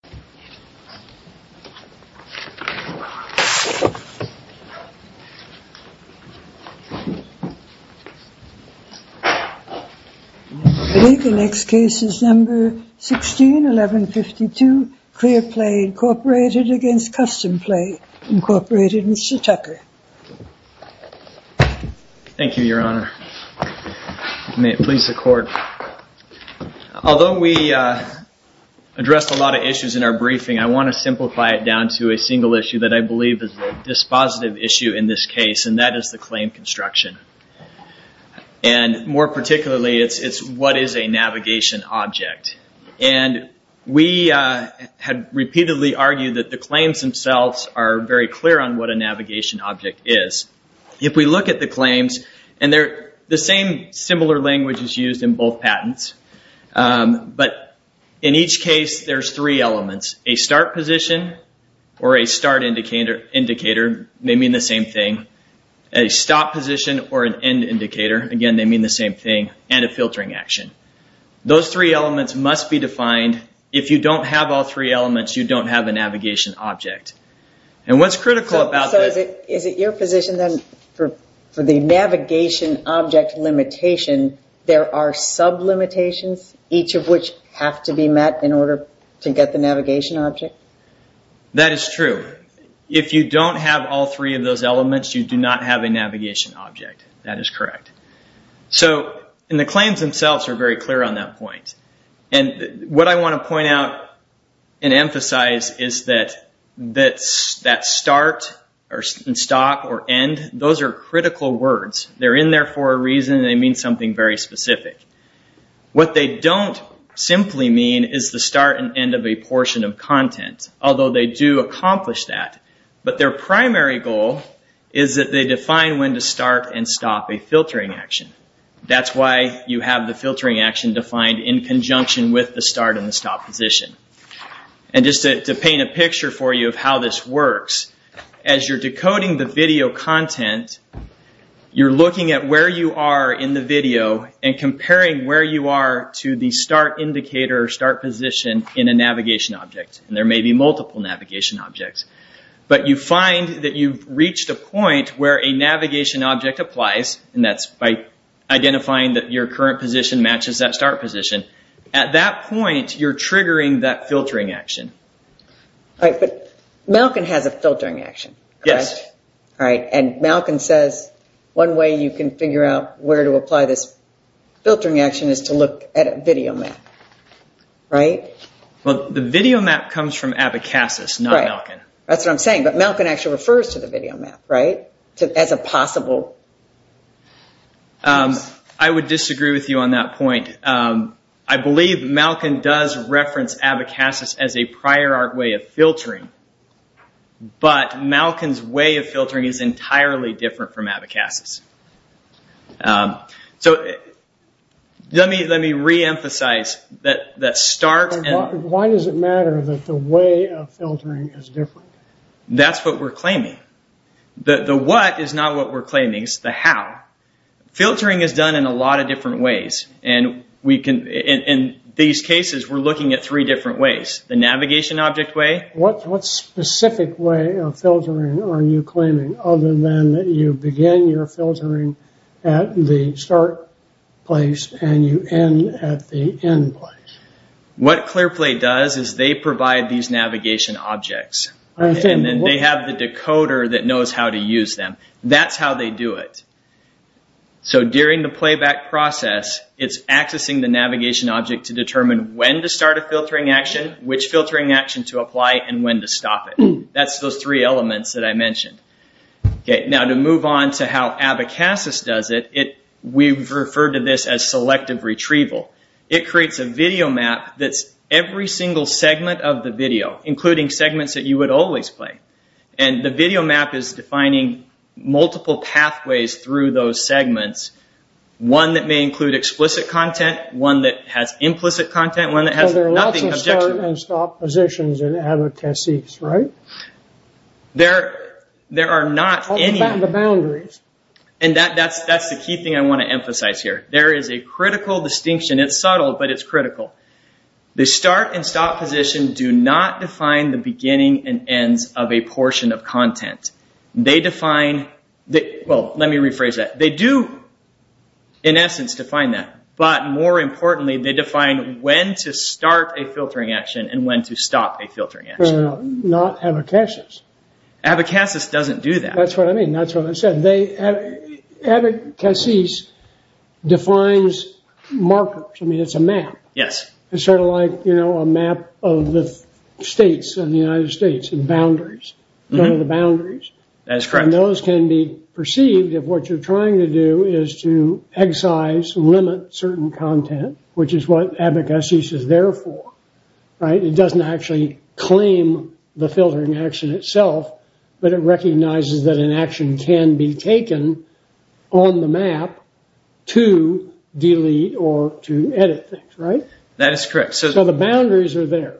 1152 Clearplay, Inc. v. Customplay, Inc. Mr. Tucker Thank you, Your Honor. May it please the Court. Although we addressed a lot of issues in our briefing, I want to simplify it down to a single issue that I believe is the dispositive issue in this case, and that is the claim construction. More particularly, it's what is a navigation object. We have repeatedly argued that the claims themselves are very clear on what a navigation object is. If we look at the claims, and the same similar language is used in both patents, but in each case there are three elements. A start position or a start indicator, they mean the same thing. A stop position or an end indicator, again, they mean the same thing. And a filtering action. Those three elements must be defined. If you don't have all three elements, you don't have a navigation object. Is it your position that for the navigation object limitation, there are sub-limitations, each of which have to be met in order to get the navigation object? That is true. If you don't have all three of those elements, you do not have a navigation object. That is correct. The claims themselves are very clear on that point. What I want to point out and emphasize is that start and stop or end, those are critical words. They're in there for a reason. They mean something very specific. What they don't simply mean is the start and end of a portion of content, although they do accomplish that. But their primary goal is that they define when to start and stop a filtering action. That's why you have the filtering action defined in conjunction with the start and the stop position. Just to paint a picture for you of how this works, as you're decoding the video content, you're looking at where you are in the video and comparing where you are to the start indicator or start position in a navigation object. There may be multiple navigation objects. But you find that you've reached a point where a navigation object applies, and that's by identifying that your current position matches that start position. At that point, you're triggering that filtering action. Right, but Malkin has a filtering action, correct? Yes. And Malkin says one way you can figure out where to apply this filtering action is to look at a video map, right? The video map comes from Abacasis, not Malkin. That's what I'm saying, but Malkin actually refers to the video map, right? As a possible way. I would disagree with you on that point. I believe Malkin does reference Abacasis as a prior art way of filtering, but Malkin's way of filtering is entirely different from Abacasis. Let me reemphasize that start and... Why does it matter that the way of filtering is different? That's what we're claiming. The what is not what we're claiming, it's the how. Filtering is done in a lot of different ways. In these cases, we're looking at three different ways. The navigation object way... What specific way of filtering are you claiming, other than that you begin your filtering at the start place and you end at the end place? What Clearplay does is they provide these navigation objects. Then they have the decoder that knows how to use them. That's how they do it. During the playback process, it's accessing the navigation object to determine when to start a filtering action, which filtering action to apply, and when to stop it. That's those three elements that I mentioned. To move on to how Abacasis does it, we've referred to this as selective retrieval. It would always play. The video map is defining multiple pathways through those segments. One that may include explicit content, one that has implicit content, one that has nothing objective. There are lots of start and stop positions in Abacasis, right? There are not any... All the boundaries. That's the key thing I want to emphasize here. There is a critical distinction. It's subtle, but it's critical. The start and stop position do not define the beginning and ends of a portion of content. Let me rephrase that. They do, in essence, define that. More importantly, they define when to start a filtering action and when to stop a filtering action. Not Abacasis. Abacasis doesn't do that. That's what I mean. That's what I said. Abacasis defines markers. I mean, it's a map. Yes. It's sort of like a map of the states of the United States and boundaries. One of the boundaries. Those can be perceived if what you're trying to do is to excise, limit certain content, which is what Abacasis is there for. It doesn't actually claim the filtering action itself, but it recognizes that an action can be taken on the map to delete or to edit things, right? That is correct. So the boundaries are there.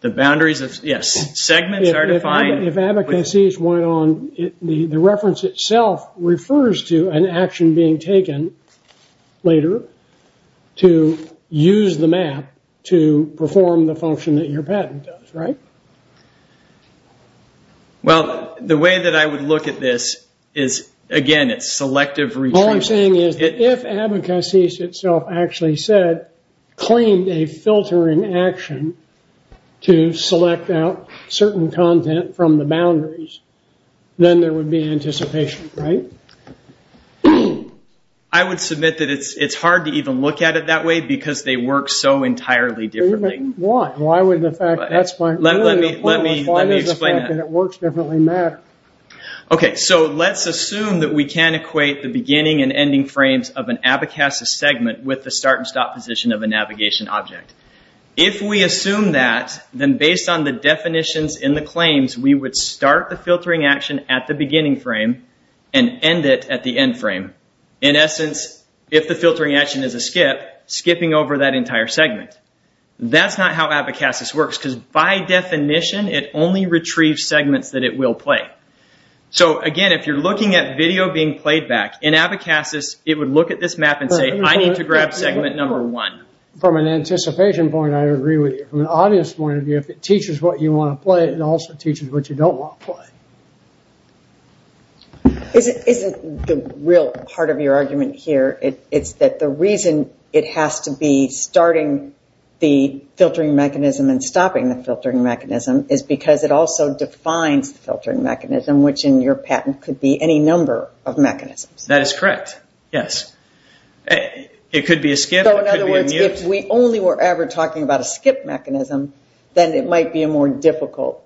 The boundaries of, yes, segments are defined. If Abacasis went on, the reference itself refers to an action being taken later to use the map to perform the function that your patent does, right? Well, the way that I would look at this is, again, it's selective retrieval. All I'm saying is that if Abacasis itself actually said, claimed a filtering action to select out certain content from the boundaries, then there would be anticipation, right? I would submit that it's hard to even look at it that way because they work so entirely differently. Why? Why would the fact that's my... Let me explain that. Why does the fact that it works differently matter? Okay, so let's assume that we can equate the beginning and ending frames of an Abacasis segment with the start and stop position of a navigation object. If we assume that, then based on the definitions in the claims, we would start the filtering action at the beginning frame and end it at the end frame. In essence, if the filtering action is a skip, skipping over that entire segment. That's not how Abacasis works because by definition, it only retrieves segments that it will play. Again, if you're looking at video being played back, in Abacasis, it would look at this map and say, I need to grab segment number one. From an anticipation point, I agree with you. From an audience point of view, if it teaches what you want to play, it also teaches what you don't want to play. Isn't the real part of your argument here, it's that the reason it has to be starting the filtering mechanism and stopping the filtering mechanism is because it also defines the filtering mechanism, which in your patent could be any number of mechanisms. That is correct, yes. It could be a skip, it could be a mute. So in other words, if we only were ever talking about a skip mechanism, then it might be a more difficult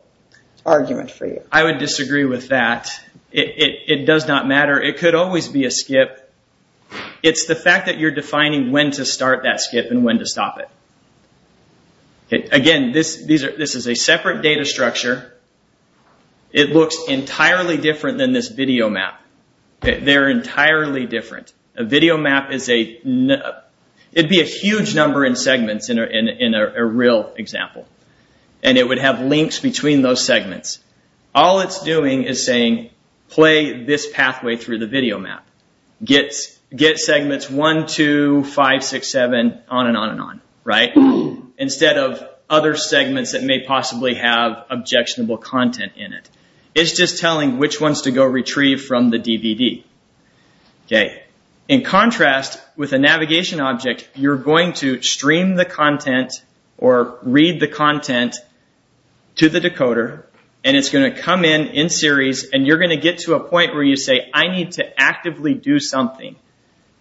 argument for you. I would disagree with that. It does not matter. It could always be a skip. It's the fact that you're defining when to start that skip and when to stop it. Again, this is a separate data structure. It looks entirely different than this video map. They're entirely different. A video map is a... It'd be a huge number in segments in a real example. It would have links between those segments. All it's doing is saying, play this pathway through the video map. Get segments one, two, five, six, seven, on and on and on, instead of other segments that may possibly have objectionable content in it. It's just telling which ones to go retrieve from the DVD. In contrast, with a navigation object, you're going to stream the content or read the content to the decoder, and it's going to come in, in series, and you're going to get to a point where you say, I need to actively do something.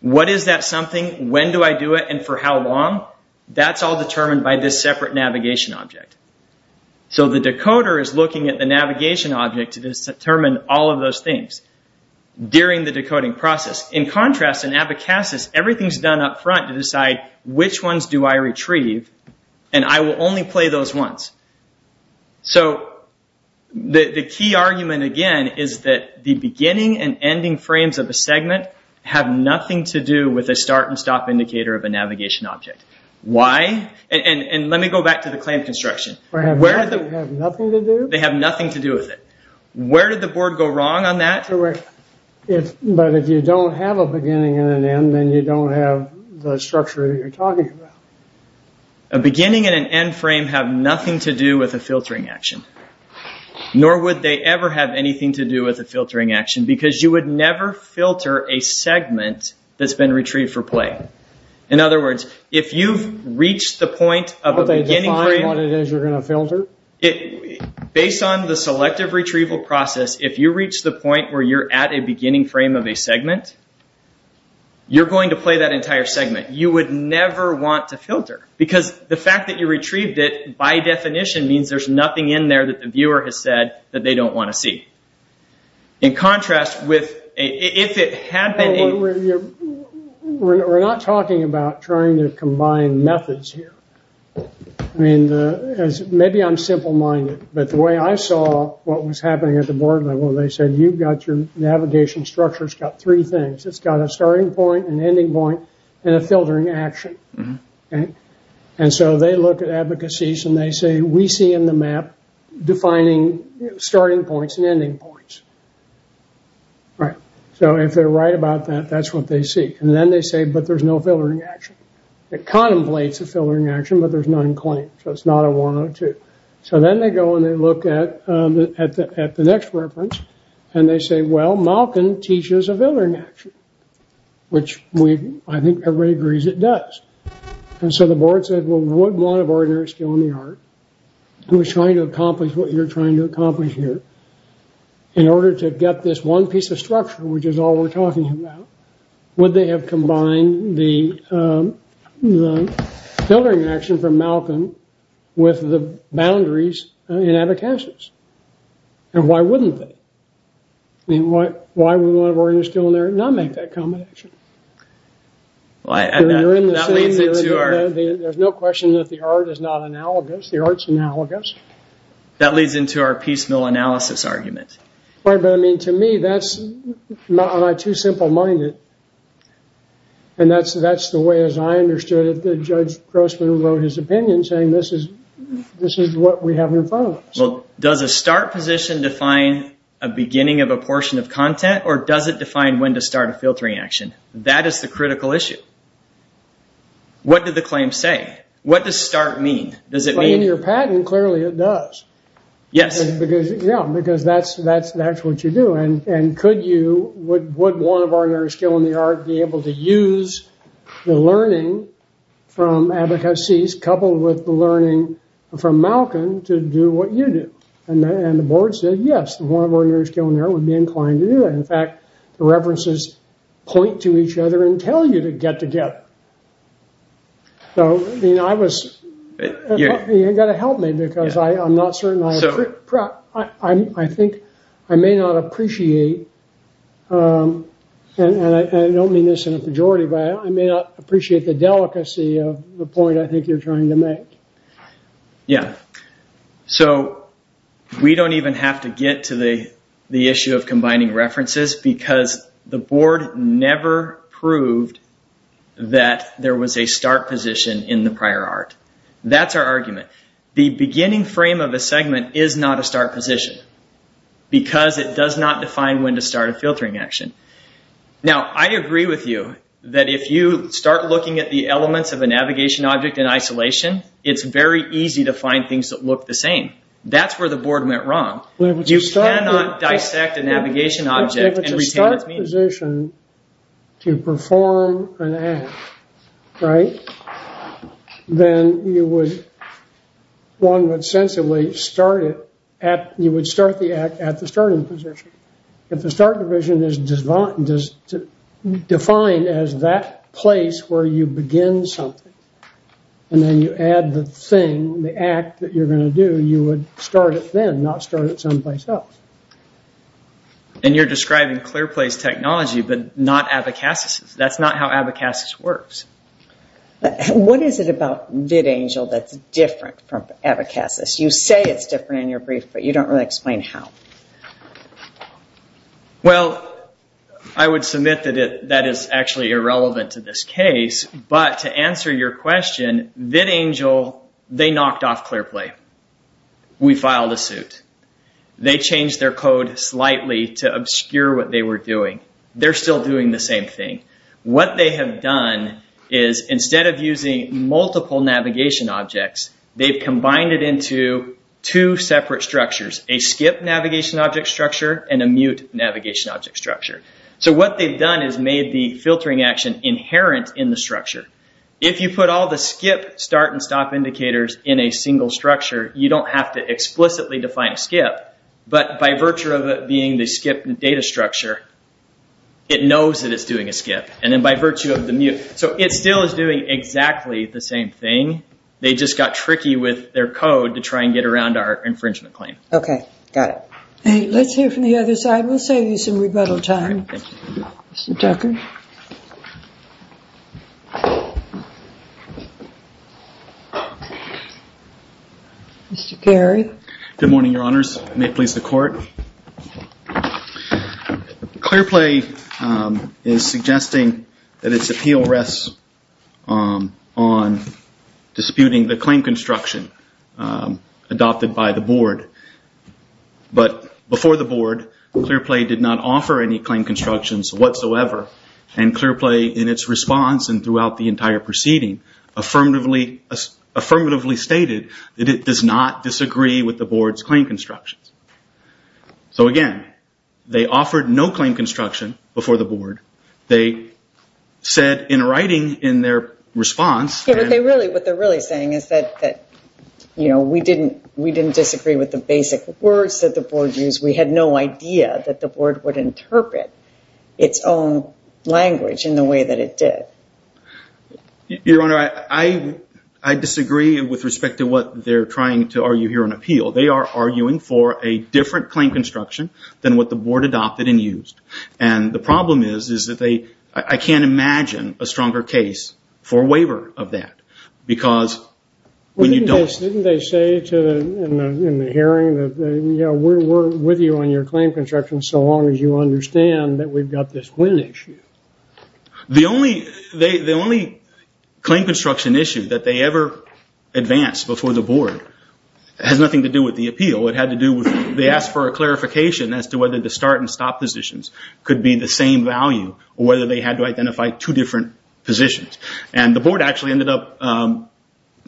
What is that something? When do I do it, and for how long? That's all determined by this separate navigation object. The decoder is looking at the navigation object to determine all of those things during the decoding process. In contrast, in Abacasis, everything's done up front to decide which ones do I retrieve, and I will only play those once. The key argument, again, is that the beginning and ending frames of a segment have nothing to do with a start and stop indicator of a navigation object. Why? Let me go back to the clamp construction. They have nothing to do with it. Where did the board go wrong on that? If you don't have a beginning and an end, then you don't have the structure that you're talking about. A beginning and an end frame have nothing to do with a filtering action, nor would they ever have anything to do with a filtering action, because you would never filter a segment that's been retrieved for play. In other words, if you've reached the point of a beginning frame... Don't they define what it is you're going to filter? Based on the selective retrieval process, if you reach the point where you're at a beginning frame of a segment, you're going to play that entire segment. You would never want to filter, because the fact that you retrieved it, by definition, means there's nothing in there that the viewer has said that they don't want to see. In contrast, if it had been a... We're not talking about trying to combine methods here. Maybe I'm simple-minded, but the way I saw what was happening at the board level, they said, you've got your navigation structure, it's got three things. It's got a starting point, an ending point, and a filtering action. They look at advocacies and they say, we see in the map defining starting points and ending points. If they're right about that, that's what they see. Then they say, but there's no filtering action. It contemplates a filtering action, but there's none in claim, so it's not a 102. Then they go and they look at the next reference, and they say, well, Malkin teaches a filtering action, which I think everybody agrees it does. The board said, we wouldn't want an ordinary skill in the art who is trying to accomplish what you're trying to accomplish here. In order to get this one piece of structure, which is all we're talking about, would they have combined the filtering action from Malkin with the boundaries in advocacies? Why wouldn't they? Why would an ordinary skill in the art not make that combination? There's no question that the art is not analogous. The art's analogous. That leads into our piecemeal analysis argument. To me, that's not too simple-minded, and that's the way, as I understood it, that Judge Grossman wrote his opinion, saying this is what we have in front of us. Does a start position define a beginning of a portion of content, or does it define when to start a filtering action? That is the critical issue. What did the claim say? What does start mean? Does it mean- In your patent, clearly it does. Yes. Yeah, because that's what you do. Could you, would one of ordinary skill in the art be able to use the learning from advocacies coupled with the learning from Malkin to do what you do? The board said, yes, one of ordinary skill in the art would be inclined to do that. In fact, the references point to each other and tell you to get together. You've got to help me, because I'm not certain, I think, I may not appreciate, and I don't mean this in a pejorative way, I may not appreciate the delicacy of the point I think you're trying to make. So we don't even have to get to the issue of combining references, because the board never proved that there was a start position in the prior art. That's our argument. The beginning frame of a segment is not a start position, because it does not define when to start a filtering action. Now I agree with you that if you start looking at the elements of a navigation object in isolation, it's very easy to find things that look the same. That's where the board went wrong. You cannot dissect a navigation object and retain its meaning. If it's a start position to perform an act, right, then you would, one would sensibly start it at, you would start the act at the starting position. If the start division is defined as that place where you begin something, and then you add the thing, the act that you're going to do, you would start it then, not start it someplace else. And you're describing clear place technology, but not abacassises. That's not how abacassis works. What is it about vidangel that's different from abacassis? You say it's different in your brief, but you don't really explain how. Well, I would submit that that is actually irrelevant to this case, but to answer your question, vidangel, they knocked off clear play. We filed a suit. They changed their code slightly to obscure what they were doing. They're still doing the same thing. What they have done is instead of using multiple navigation objects, they've combined it into two separate structures, a skip navigation object structure and a mute navigation object structure. So what they've done is made the filtering action inherent in the structure. If you put all the skip, start, and stop indicators in a single structure, you don't have to explicitly define a skip, but by virtue of it being the skip data structure, it knows that it's doing a skip. And then by virtue of the mute, so it still is doing exactly the same thing. They just got tricky with their code to try and get around our infringement claim. Okay. Got it. Hey, let's hear from the other side. We'll save you some rebuttal time. Mr. Tucker. Mr. Carey. Good morning, your honors. May it please the court. Clear play is suggesting that its appeal rests on disputing the claim construction adopted by the board, but before the board, clear play did not offer any claim constructions whatsoever. And clear play in its response and throughout the entire proceeding, affirmatively stated that it does not disagree with the board's claim constructions. So again, they offered no claim construction before the board. They said in writing in their response- What they're really saying is that we didn't disagree with the basic words that the board used. We had no idea that the board would interpret its own language in the way that it did. Your honor, I disagree with respect to what they're trying to argue here on appeal. They are arguing for a different claim construction than what the board adopted and used. And the problem is, is that I can't imagine a stronger case for waiver of that. Didn't they say in the hearing that we're with you on your claim construction so long as you understand that we've got this wind issue? The only claim construction issue that they ever advanced before the board has nothing to do with the appeal. It had to do with, they asked for a clarification as to whether the start and stop positions could be the same value or whether they had to identify two different positions. And the board actually ended up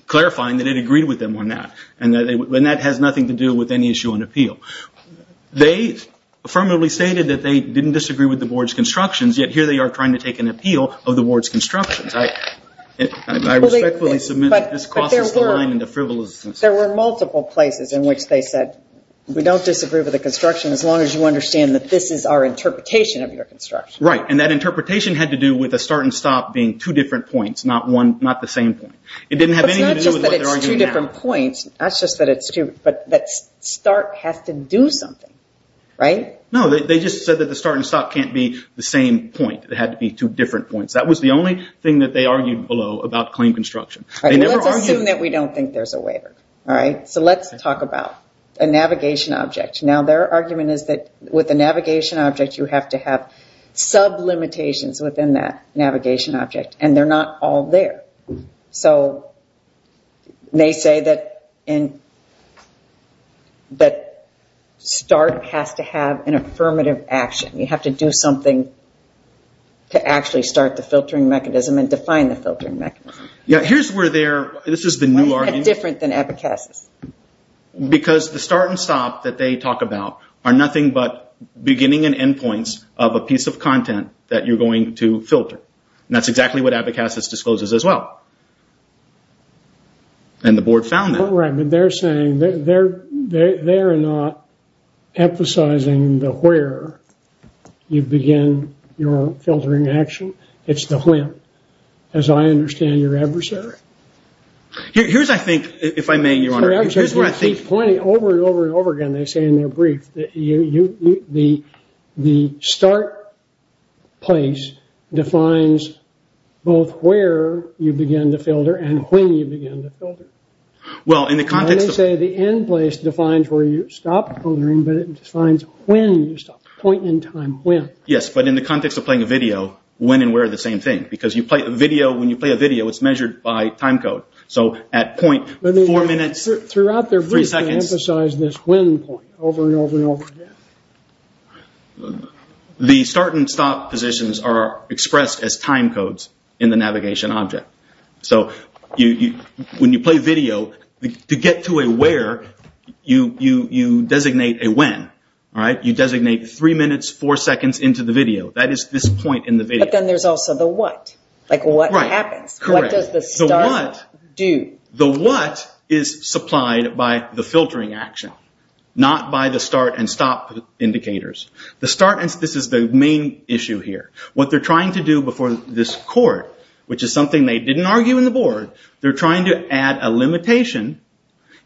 clarifying that it agreed with them on that. And that has nothing to do with any issue on appeal. They affirmatively stated that they didn't disagree with the board's constructions, yet here they are trying to take an appeal of the board's constructions. I respectfully submit that this crosses the line in the frivolousness. There were multiple places in which they said, we don't disagree with the construction as long as you understand that this is our interpretation of your construction. That interpretation had to do with the start and stop being two different points, not the same point. It didn't have anything to do with what they're arguing now. It's not just that it's two different points, it's not just that it's two, but that start has to do something, right? No, they just said that the start and stop can't be the same point, it had to be two different points. That was the only thing that they argued below about claim construction. Let's assume that we don't think there's a waiver. Let's talk about a navigation object. Their argument is that with a navigation object, you have to have sub-limitations within that navigation object. They're not all there. They say that start has to have an affirmative action. You have to do something to actually start the filtering mechanism and define the filtering mechanism. This is the new argument. It's different than abacuses. Because the start and stop that they talk about are nothing but beginning and end points of a piece of content that you're going to filter. That's exactly what abacuses discloses as well. The board found that. Right, but they're saying, they're not emphasizing the where you begin your filtering action. It's the when, as I understand your adversary. Here's where I think, if I may, your honor. Sorry, I'm sorry. You keep pointing over and over and over again, they say in their brief, that the start place defines both where you begin to filter and when you begin to filter. Well, in the context of- They say the end place defines where you stop filtering, but it defines when you stop. Point in time, when. Yes, but in the context of playing a video, when and where are the same thing. When you play a video, it's measured by time code. At point, four minutes, three seconds. Throughout their brief, they emphasize this when point over and over and over again. The start and stop positions are expressed as time codes in the navigation object. When you play video, to get to a where, you designate a when. You designate three minutes, four seconds into the video. That is this point in the video. But then there's also the what. What happens? What does the start do? The what is supplied by the filtering action, not by the start and stop indicators. The start, this is the main issue here. What they're trying to do before this court, which is something they didn't argue in the board, they're trying to add a limitation,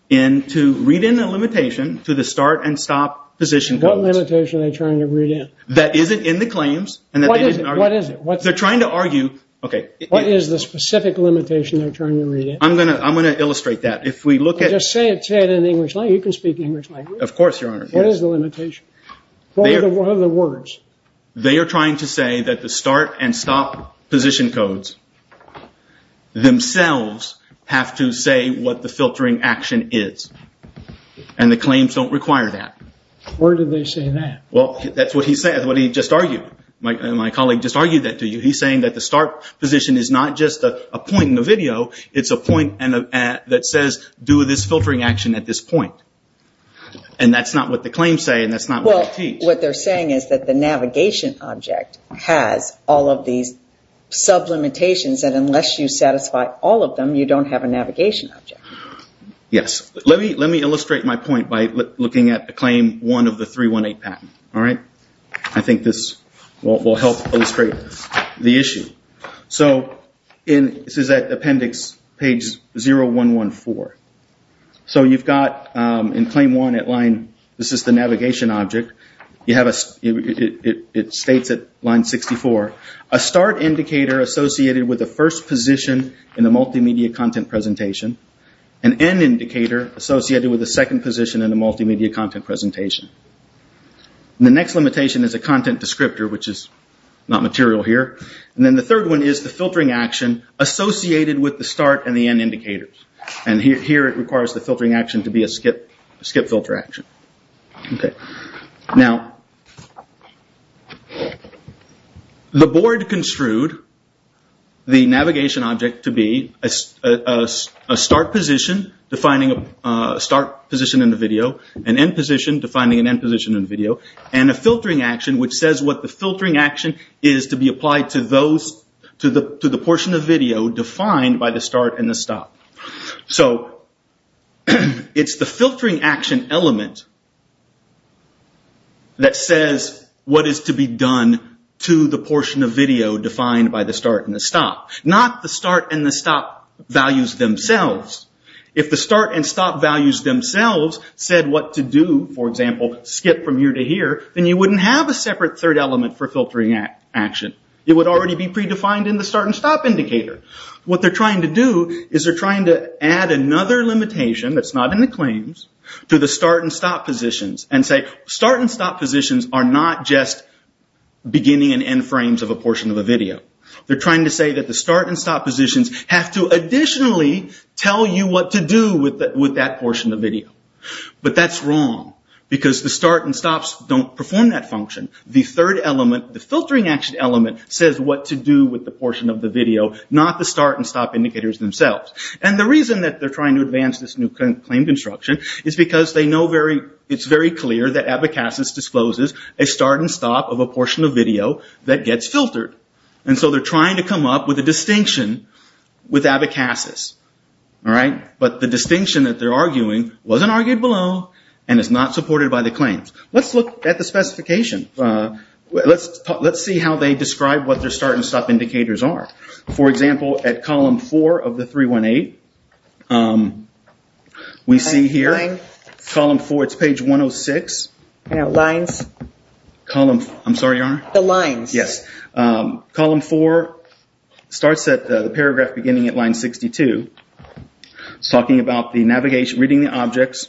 to read in a limitation to the start and stop position codes. What limitation are they trying to read in? That isn't in the claims. What is it? They're trying to argue. What is the specific limitation they're trying to read in? I'm going to illustrate that. Just say it in English language. You can speak English language. Of course, Your Honor. What is the limitation? What are the words? They are trying to say that the start and stop position codes themselves have to say what the filtering action is. And the claims don't require that. Where do they say that? That's what he just argued. My colleague just argued that to you. He's saying that the start position is not just a point in the video, it's a point that says do this filtering action at this point. And that's not what the claims say and that's not what they teach. What they're saying is that the navigation object has all of these sub-limitations and unless you satisfy all of them, you don't have a navigation object. Yes. Let me illustrate my point by looking at claim one of the 318 patent. I think this will help illustrate the issue. This is at appendix page 0114. You've got in claim one at line, this is the navigation object, it states at line 64, a start indicator associated with the first position in the multimedia content presentation, an end indicator associated with the second position in the multimedia content presentation. The next limitation is a content descriptor, which is not material here. And then the third one is the filtering action associated with the start and the end indicators. And here it requires the filtering action to be a skip filter action. Now, the board construed the navigation object to be a start position defining a start position in the video, an end position defining an end position in the video, and a filtering action which says what the filtering action is to be applied to the portion of video defined by the start and the stop. So, it's the filtering action element that says what is to be done to the portion of video defined by the start and the stop. Not the start and the stop values themselves. If the start and stop values themselves said what to do, for example, skip from here to here, then you wouldn't have a separate third element for filtering action. It would already be predefined in the start and stop indicator. What they're trying to do is they're trying to add another limitation that's not in the claims to the start and stop positions and say start and stop positions are not just beginning and end frames of a portion of a video. They're trying to say that the start and stop positions have to additionally tell you what to do with that portion of video. But that's wrong because the start and stops don't perform that function. The third element, the filtering action element, says what to do with the portion of the video, not the start and stop indicators themselves. The reason that they're trying to advance this new claim construction is because it's very clear that Abacasis discloses a start and stop of a portion of video that gets filtered. So, they're trying to come up with a distinction with Abacasis. But the distinction that they're arguing wasn't argued below and is not supported by the claims. Let's look at the specification. Let's see how they describe what their start and stop indicators are. For example, at column 4 of the 318, we see here, column 4, it's page 106. I'm sorry, Your Honor? The lines. Yes. Column 4 starts at the paragraph beginning at line 62. It's talking about reading the objects.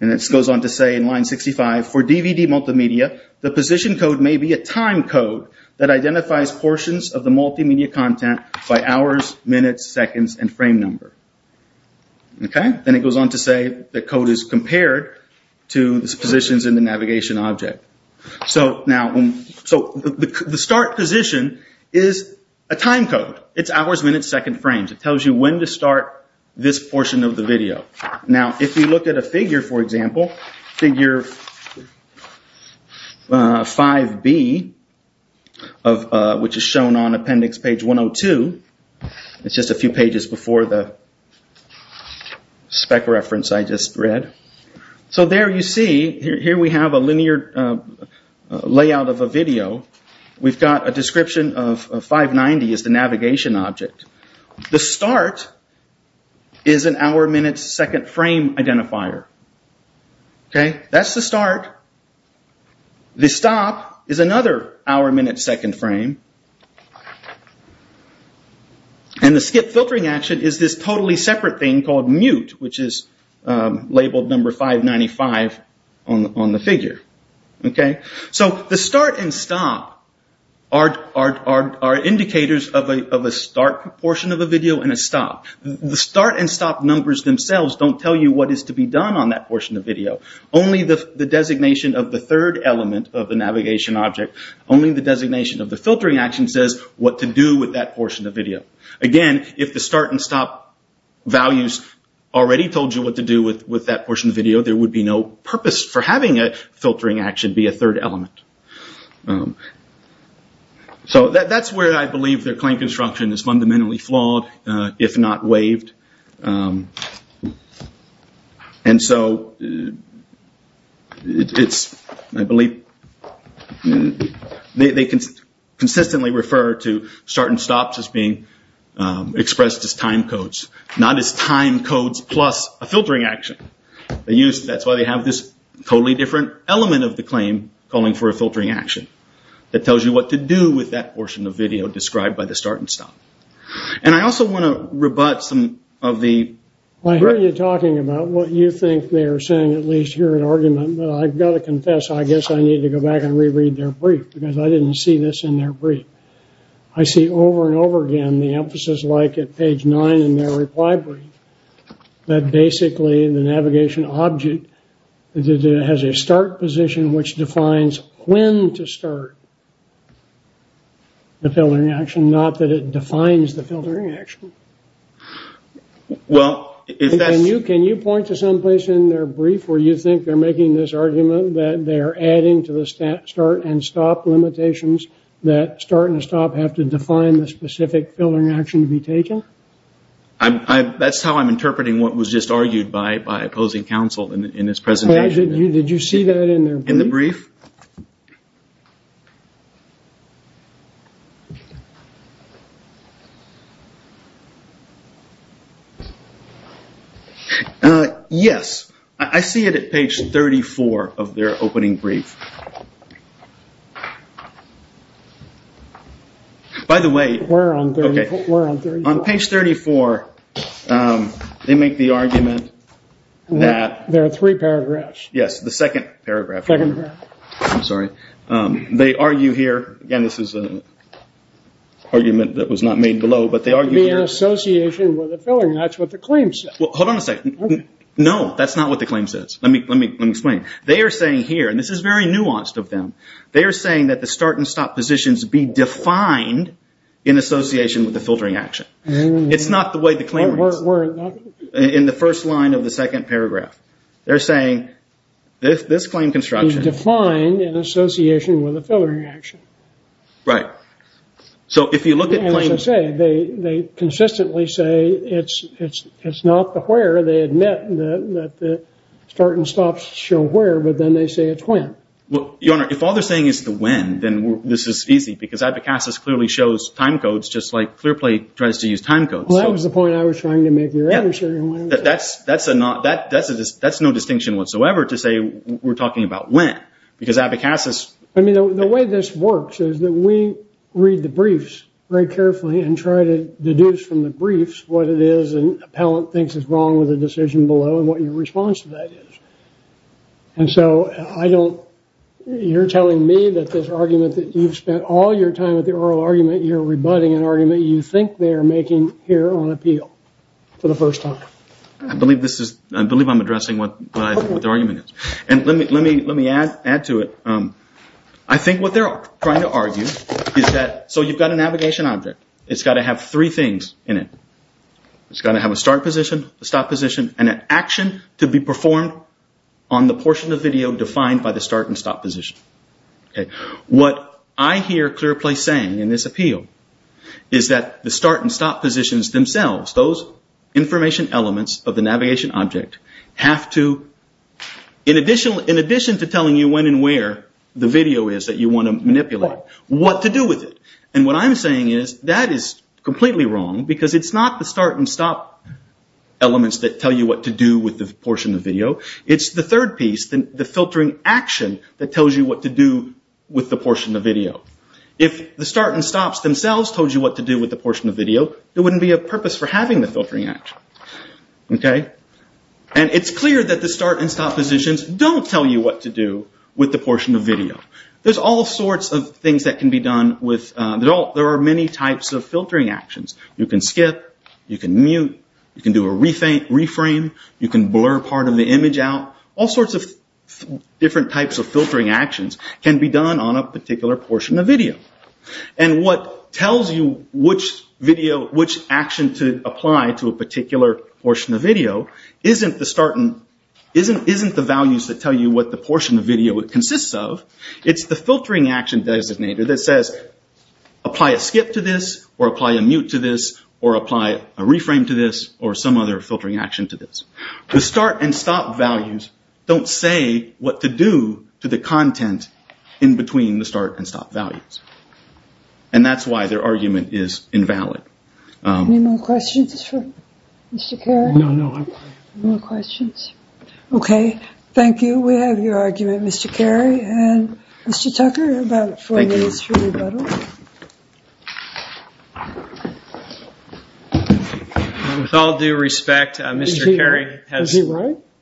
And it goes on to say in line 65, for DVD multimedia, the position code may be a time code that identifies portions of the multimedia content by hours, minutes, seconds, and frame number. Then it goes on to say the code is compared to the positions in the navigation object. So, the start position is a time code. It's hours, minutes, seconds, frames. It tells you when to start this portion of the video. Now, if you look at a figure, for example, figure 5B, which is shown on appendix page 102. It's just a few pages before the spec reference I just read. So, there you see, here we have a linear layout of a video. We've got a description of 590 as the navigation object. The start is an hour, minute, second frame identifier. That's the start. The stop is another hour, minute, second frame. And the skip filtering action is this totally separate thing called mute, which is labeled number 595 on the figure. So, the start and stop are indicators of a start portion of a video and a stop. The start and stop numbers themselves don't tell you what is to be done on that portion of the video. Only the designation of the third element of the navigation object, only the designation of the filtering action says what to do with that portion of the video. Again, if the start and stop values already told you what to do with that portion of the video, there would be no purpose for having a filtering action be a third element. So, that's where I believe their claim construction is fundamentally flawed, if not waived. And so, they consistently refer to start and stops as being expressed as time codes. Not as time codes plus a filtering action. That's why they have this totally different element of the claim calling for a filtering action. That tells you what to do with that portion of the video described by the start and stop. And I also want to rebut some of the... I hear you talking about what you think they are saying, at least here in argument. But I've got to confess, I guess I need to go back and reread their brief, because I didn't see this in their brief. I see over and over again the emphasis, like at page 9 in their reply brief, that basically the navigation object has a start position which defines when to start the filtering action, not that it defines the filtering action. Well, if that's... Can you point to some place in their brief where you think they're making this argument that they're adding to the start and stop limitations that start and stop have to define the specific filtering action to be taken? That's how I'm interpreting what was just argued by opposing counsel in this presentation. Did you see that in their brief? In the brief? Yes. I see it at page 34 of their opening brief. By the way, on page 34, they make the argument that... There are three paragraphs. Yes, the second paragraph. I'm sorry. They argue here. Again, this is an argument that was not made below, but they argue... It would be in association with a filling. That's what the claim says. Well, hold on a second. No, that's not what the claim says. Let me explain. They are saying here, and this is very nuanced of them, they are saying that the start and stop positions be defined in association with the filtering action. It's not the way the claim reads. In the first line of the second paragraph. They're saying this claim construction... Be defined in association with a filtering action. Right. So if you look at claims... As I say, they consistently say it's not the where. They admit that the start and stop show where, but then they say it's when. Your Honor, if all they're saying is the when, then this is easy, because Abacasis clearly shows time codes just like Clearplay tries to use time codes. Well, that was the point I was trying to make. That's no distinction whatsoever to say we're talking about when, because Abacasis... I mean, the way this works is that we read the briefs very carefully and try to deduce from the briefs what it is an appellant thinks is wrong with the decision below and what your response to that is. And so I don't... You're telling me that this argument that you've spent all your time with the oral argument, you're rebutting an argument you think they're making here on appeal for the first time? I believe this is... I believe I'm addressing what the argument is. And let me add to it. I think what they're trying to argue is that... So you've got a navigation object. It's got to have three things in it. It's got to have a start position, a stop position, and an action to be performed on the portion of video defined by the start and stop position. What I hear ClearPlace saying in this appeal is that the start and stop positions themselves, those information elements of the navigation object, have to, in addition to telling you when and where the video is that you want to manipulate, what to do with it. And what I'm saying is that is completely wrong, because it's not the start and stop elements that tell you what to do with the portion of video. It's the third piece, the filtering action, that tells you what to do with the portion of video. If the start and stops themselves told you what to do with the portion of video, there wouldn't be a purpose for having the filtering action. And it's clear that the start and stop positions don't tell you what to do with the portion of video. There's all sorts of things that can be done with... There are many types of filtering actions. You can skip. You can mute. You can do a reframe. You can blur part of the image out. All sorts of different types of filtering actions can be done on a particular portion of video. And what tells you which action to apply to a particular portion of video isn't the values that tell you what the portion of video consists of. It's the filtering action designator that says, apply a skip to this, or apply a mute to this, or apply a reframe to this, or some other filtering action to this. The start and stop values don't say what to do to the content in between the start and stop values. And that's why their argument is invalid. Any more questions for Mr. Carey? No, no, I'm fine. No more questions? Okay. Thank you. We have your argument, Mr. Carey. Mr. Tucker, you have about four minutes for rebuttal. With all due respect, Mr. Carey has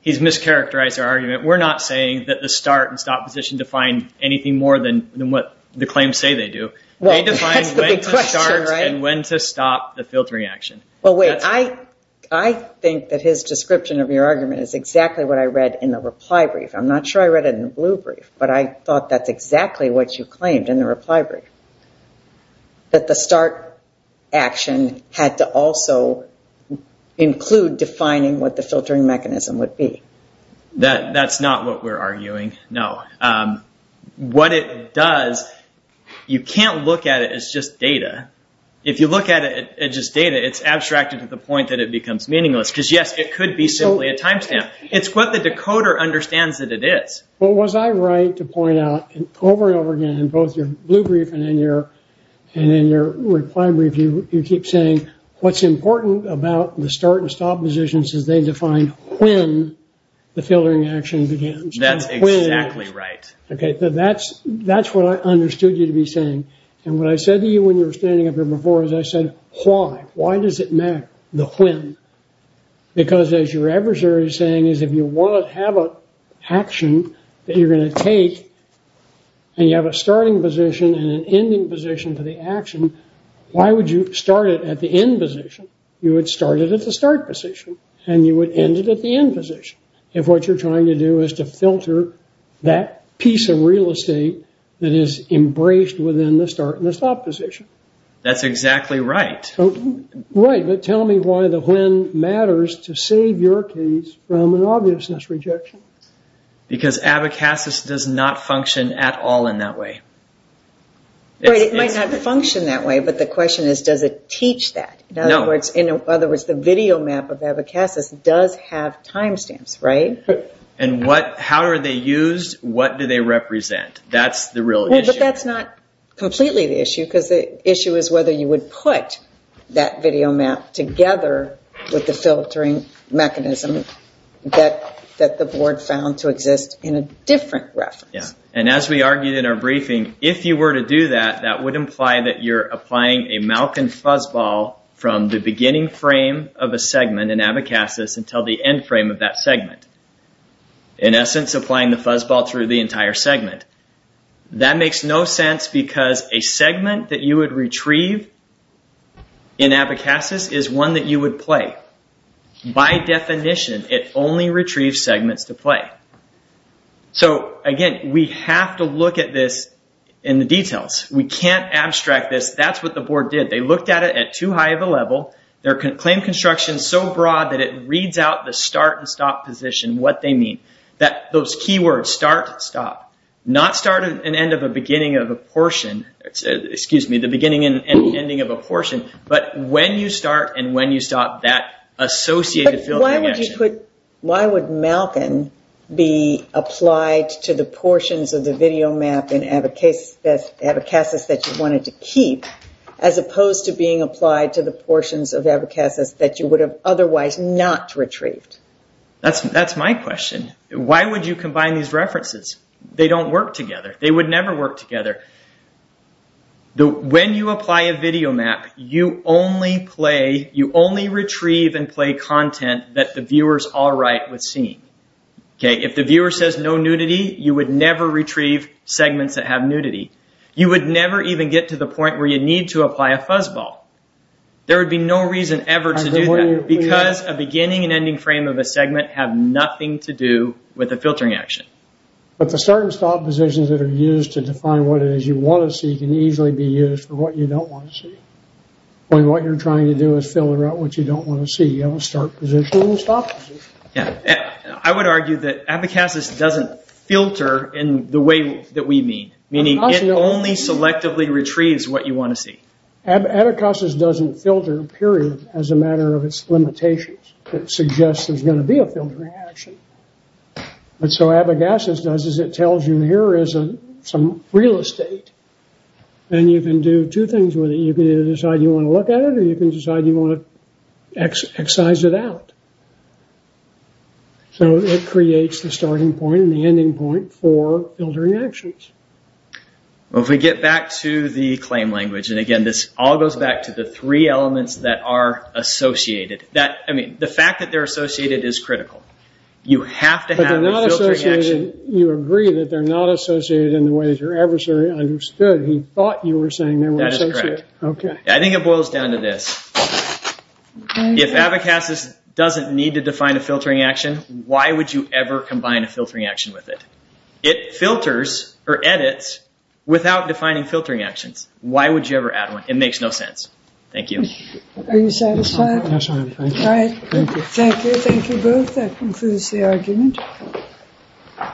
mischaracterized our argument. We're not saying that the start and stop position define anything more than what the claims say they do. Well, that's the big question, right? They define when to start and when to stop the filtering action. Well, wait. I think that his description of your argument is exactly what I read in the reply brief. I'm not sure I read it in the blue brief, but I thought that's exactly what you claimed in the reply brief, that the start action had to also include defining what the filtering mechanism would be. That's not what we're arguing, no. What it does, you can't look at it as just data. If you look at it as just data, it's abstracted to the point that it becomes meaningless, because, yes, it could be simply a timestamp. It's what the decoder understands that it is. Well, was I right to point out over and over again in both your blue brief and in your reply brief, you keep saying what's important about the start and stop positions is they define when the filtering action begins. That's exactly right. That's what I understood you to be saying. And what I said to you when you were standing up here before is I said, why? Why does it matter, the when? Because, as your adversary is saying, is if you want to have an action that you're going to take, and you have a starting position and an ending position to the action, why would you start it at the end position? You would start it at the start position, and you would end it at the end position, if what you're trying to do is to filter that piece of real estate that is embraced within the start and the stop position. That's exactly right. Right, but tell me why the when matters to save your case from an obviousness rejection. Because abacasis does not function at all in that way. Right, it might not function that way, but the question is, does it teach that? In other words, the video map of abacasis does have time stamps, right? And how are they used? What do they represent? That's the real issue. But that's not completely the issue, because the issue is whether you would put that video map together with the filtering mechanism that the board found to exist in a different reference. Yeah, and as we argued in our briefing, if you were to do that, that would imply that you're applying a Malkin fuzzball from the beginning frame of a segment in abacasis until the end frame of that segment. In essence, applying the fuzzball through the entire segment. That makes no sense, because a segment that you would retrieve in abacasis is one that you would play. By definition, it only retrieves segments to play. So, again, we have to look at this in the details. We can't abstract this. That's what the board did. They looked at it at too high of a level. They claimed construction so broad that it reads out the start and stop position, what they mean. Those key words, start, stop. Not start and end of a beginning of a portion. Excuse me, the beginning and ending of a portion. But when you start and when you stop, that associated filtering action. Why would Malkin be applied to the portions of the video map in abacasis that you wanted to keep, as opposed to being applied to the portions of abacasis that you would have otherwise not retrieved? That's my question. Why would you combine these references? They don't work together. They would never work together. When you apply a video map, you only play, you only retrieve and play content that the viewer is all right with seeing. If the viewer says no nudity, you would never retrieve segments that have nudity. You would never even get to the point where you need to apply a fuzzball. There would be no reason ever to do that. Because a beginning and ending frame of a segment have nothing to do with a filtering action. But the start and stop positions that are used to define what it is you want to see can easily be used for what you don't want to see. When what you're trying to do is fill out what you don't want to see. You have a start position and a stop position. I would argue that abacasis doesn't filter in the way that we mean. Meaning it only selectively retrieves what you want to see. Abacasis doesn't filter, period, as a matter of its limitations. It suggests there's going to be a filtering action. And so abacasis does is it tells you here is some real estate. And you can do two things with it. You can either decide you want to look at it or you can decide you want to excise it out. So it creates the starting point and the ending point for filtering actions. If we get back to the claim language. And again, this all goes back to the three elements that are associated. The fact that they're associated is critical. You have to have a filtering action. You agree that they're not associated in the way that your adversary understood. He thought you were saying they were associated. That is correct. I think it boils down to this. If abacasis doesn't need to define a filtering action, why would you ever combine a filtering action with it? It filters or edits without defining filtering actions. Why would you ever add one? It makes no sense. Thank you. Are you satisfied? Yes, I am. Thank you. Thank you. Thank you both. That concludes the argument.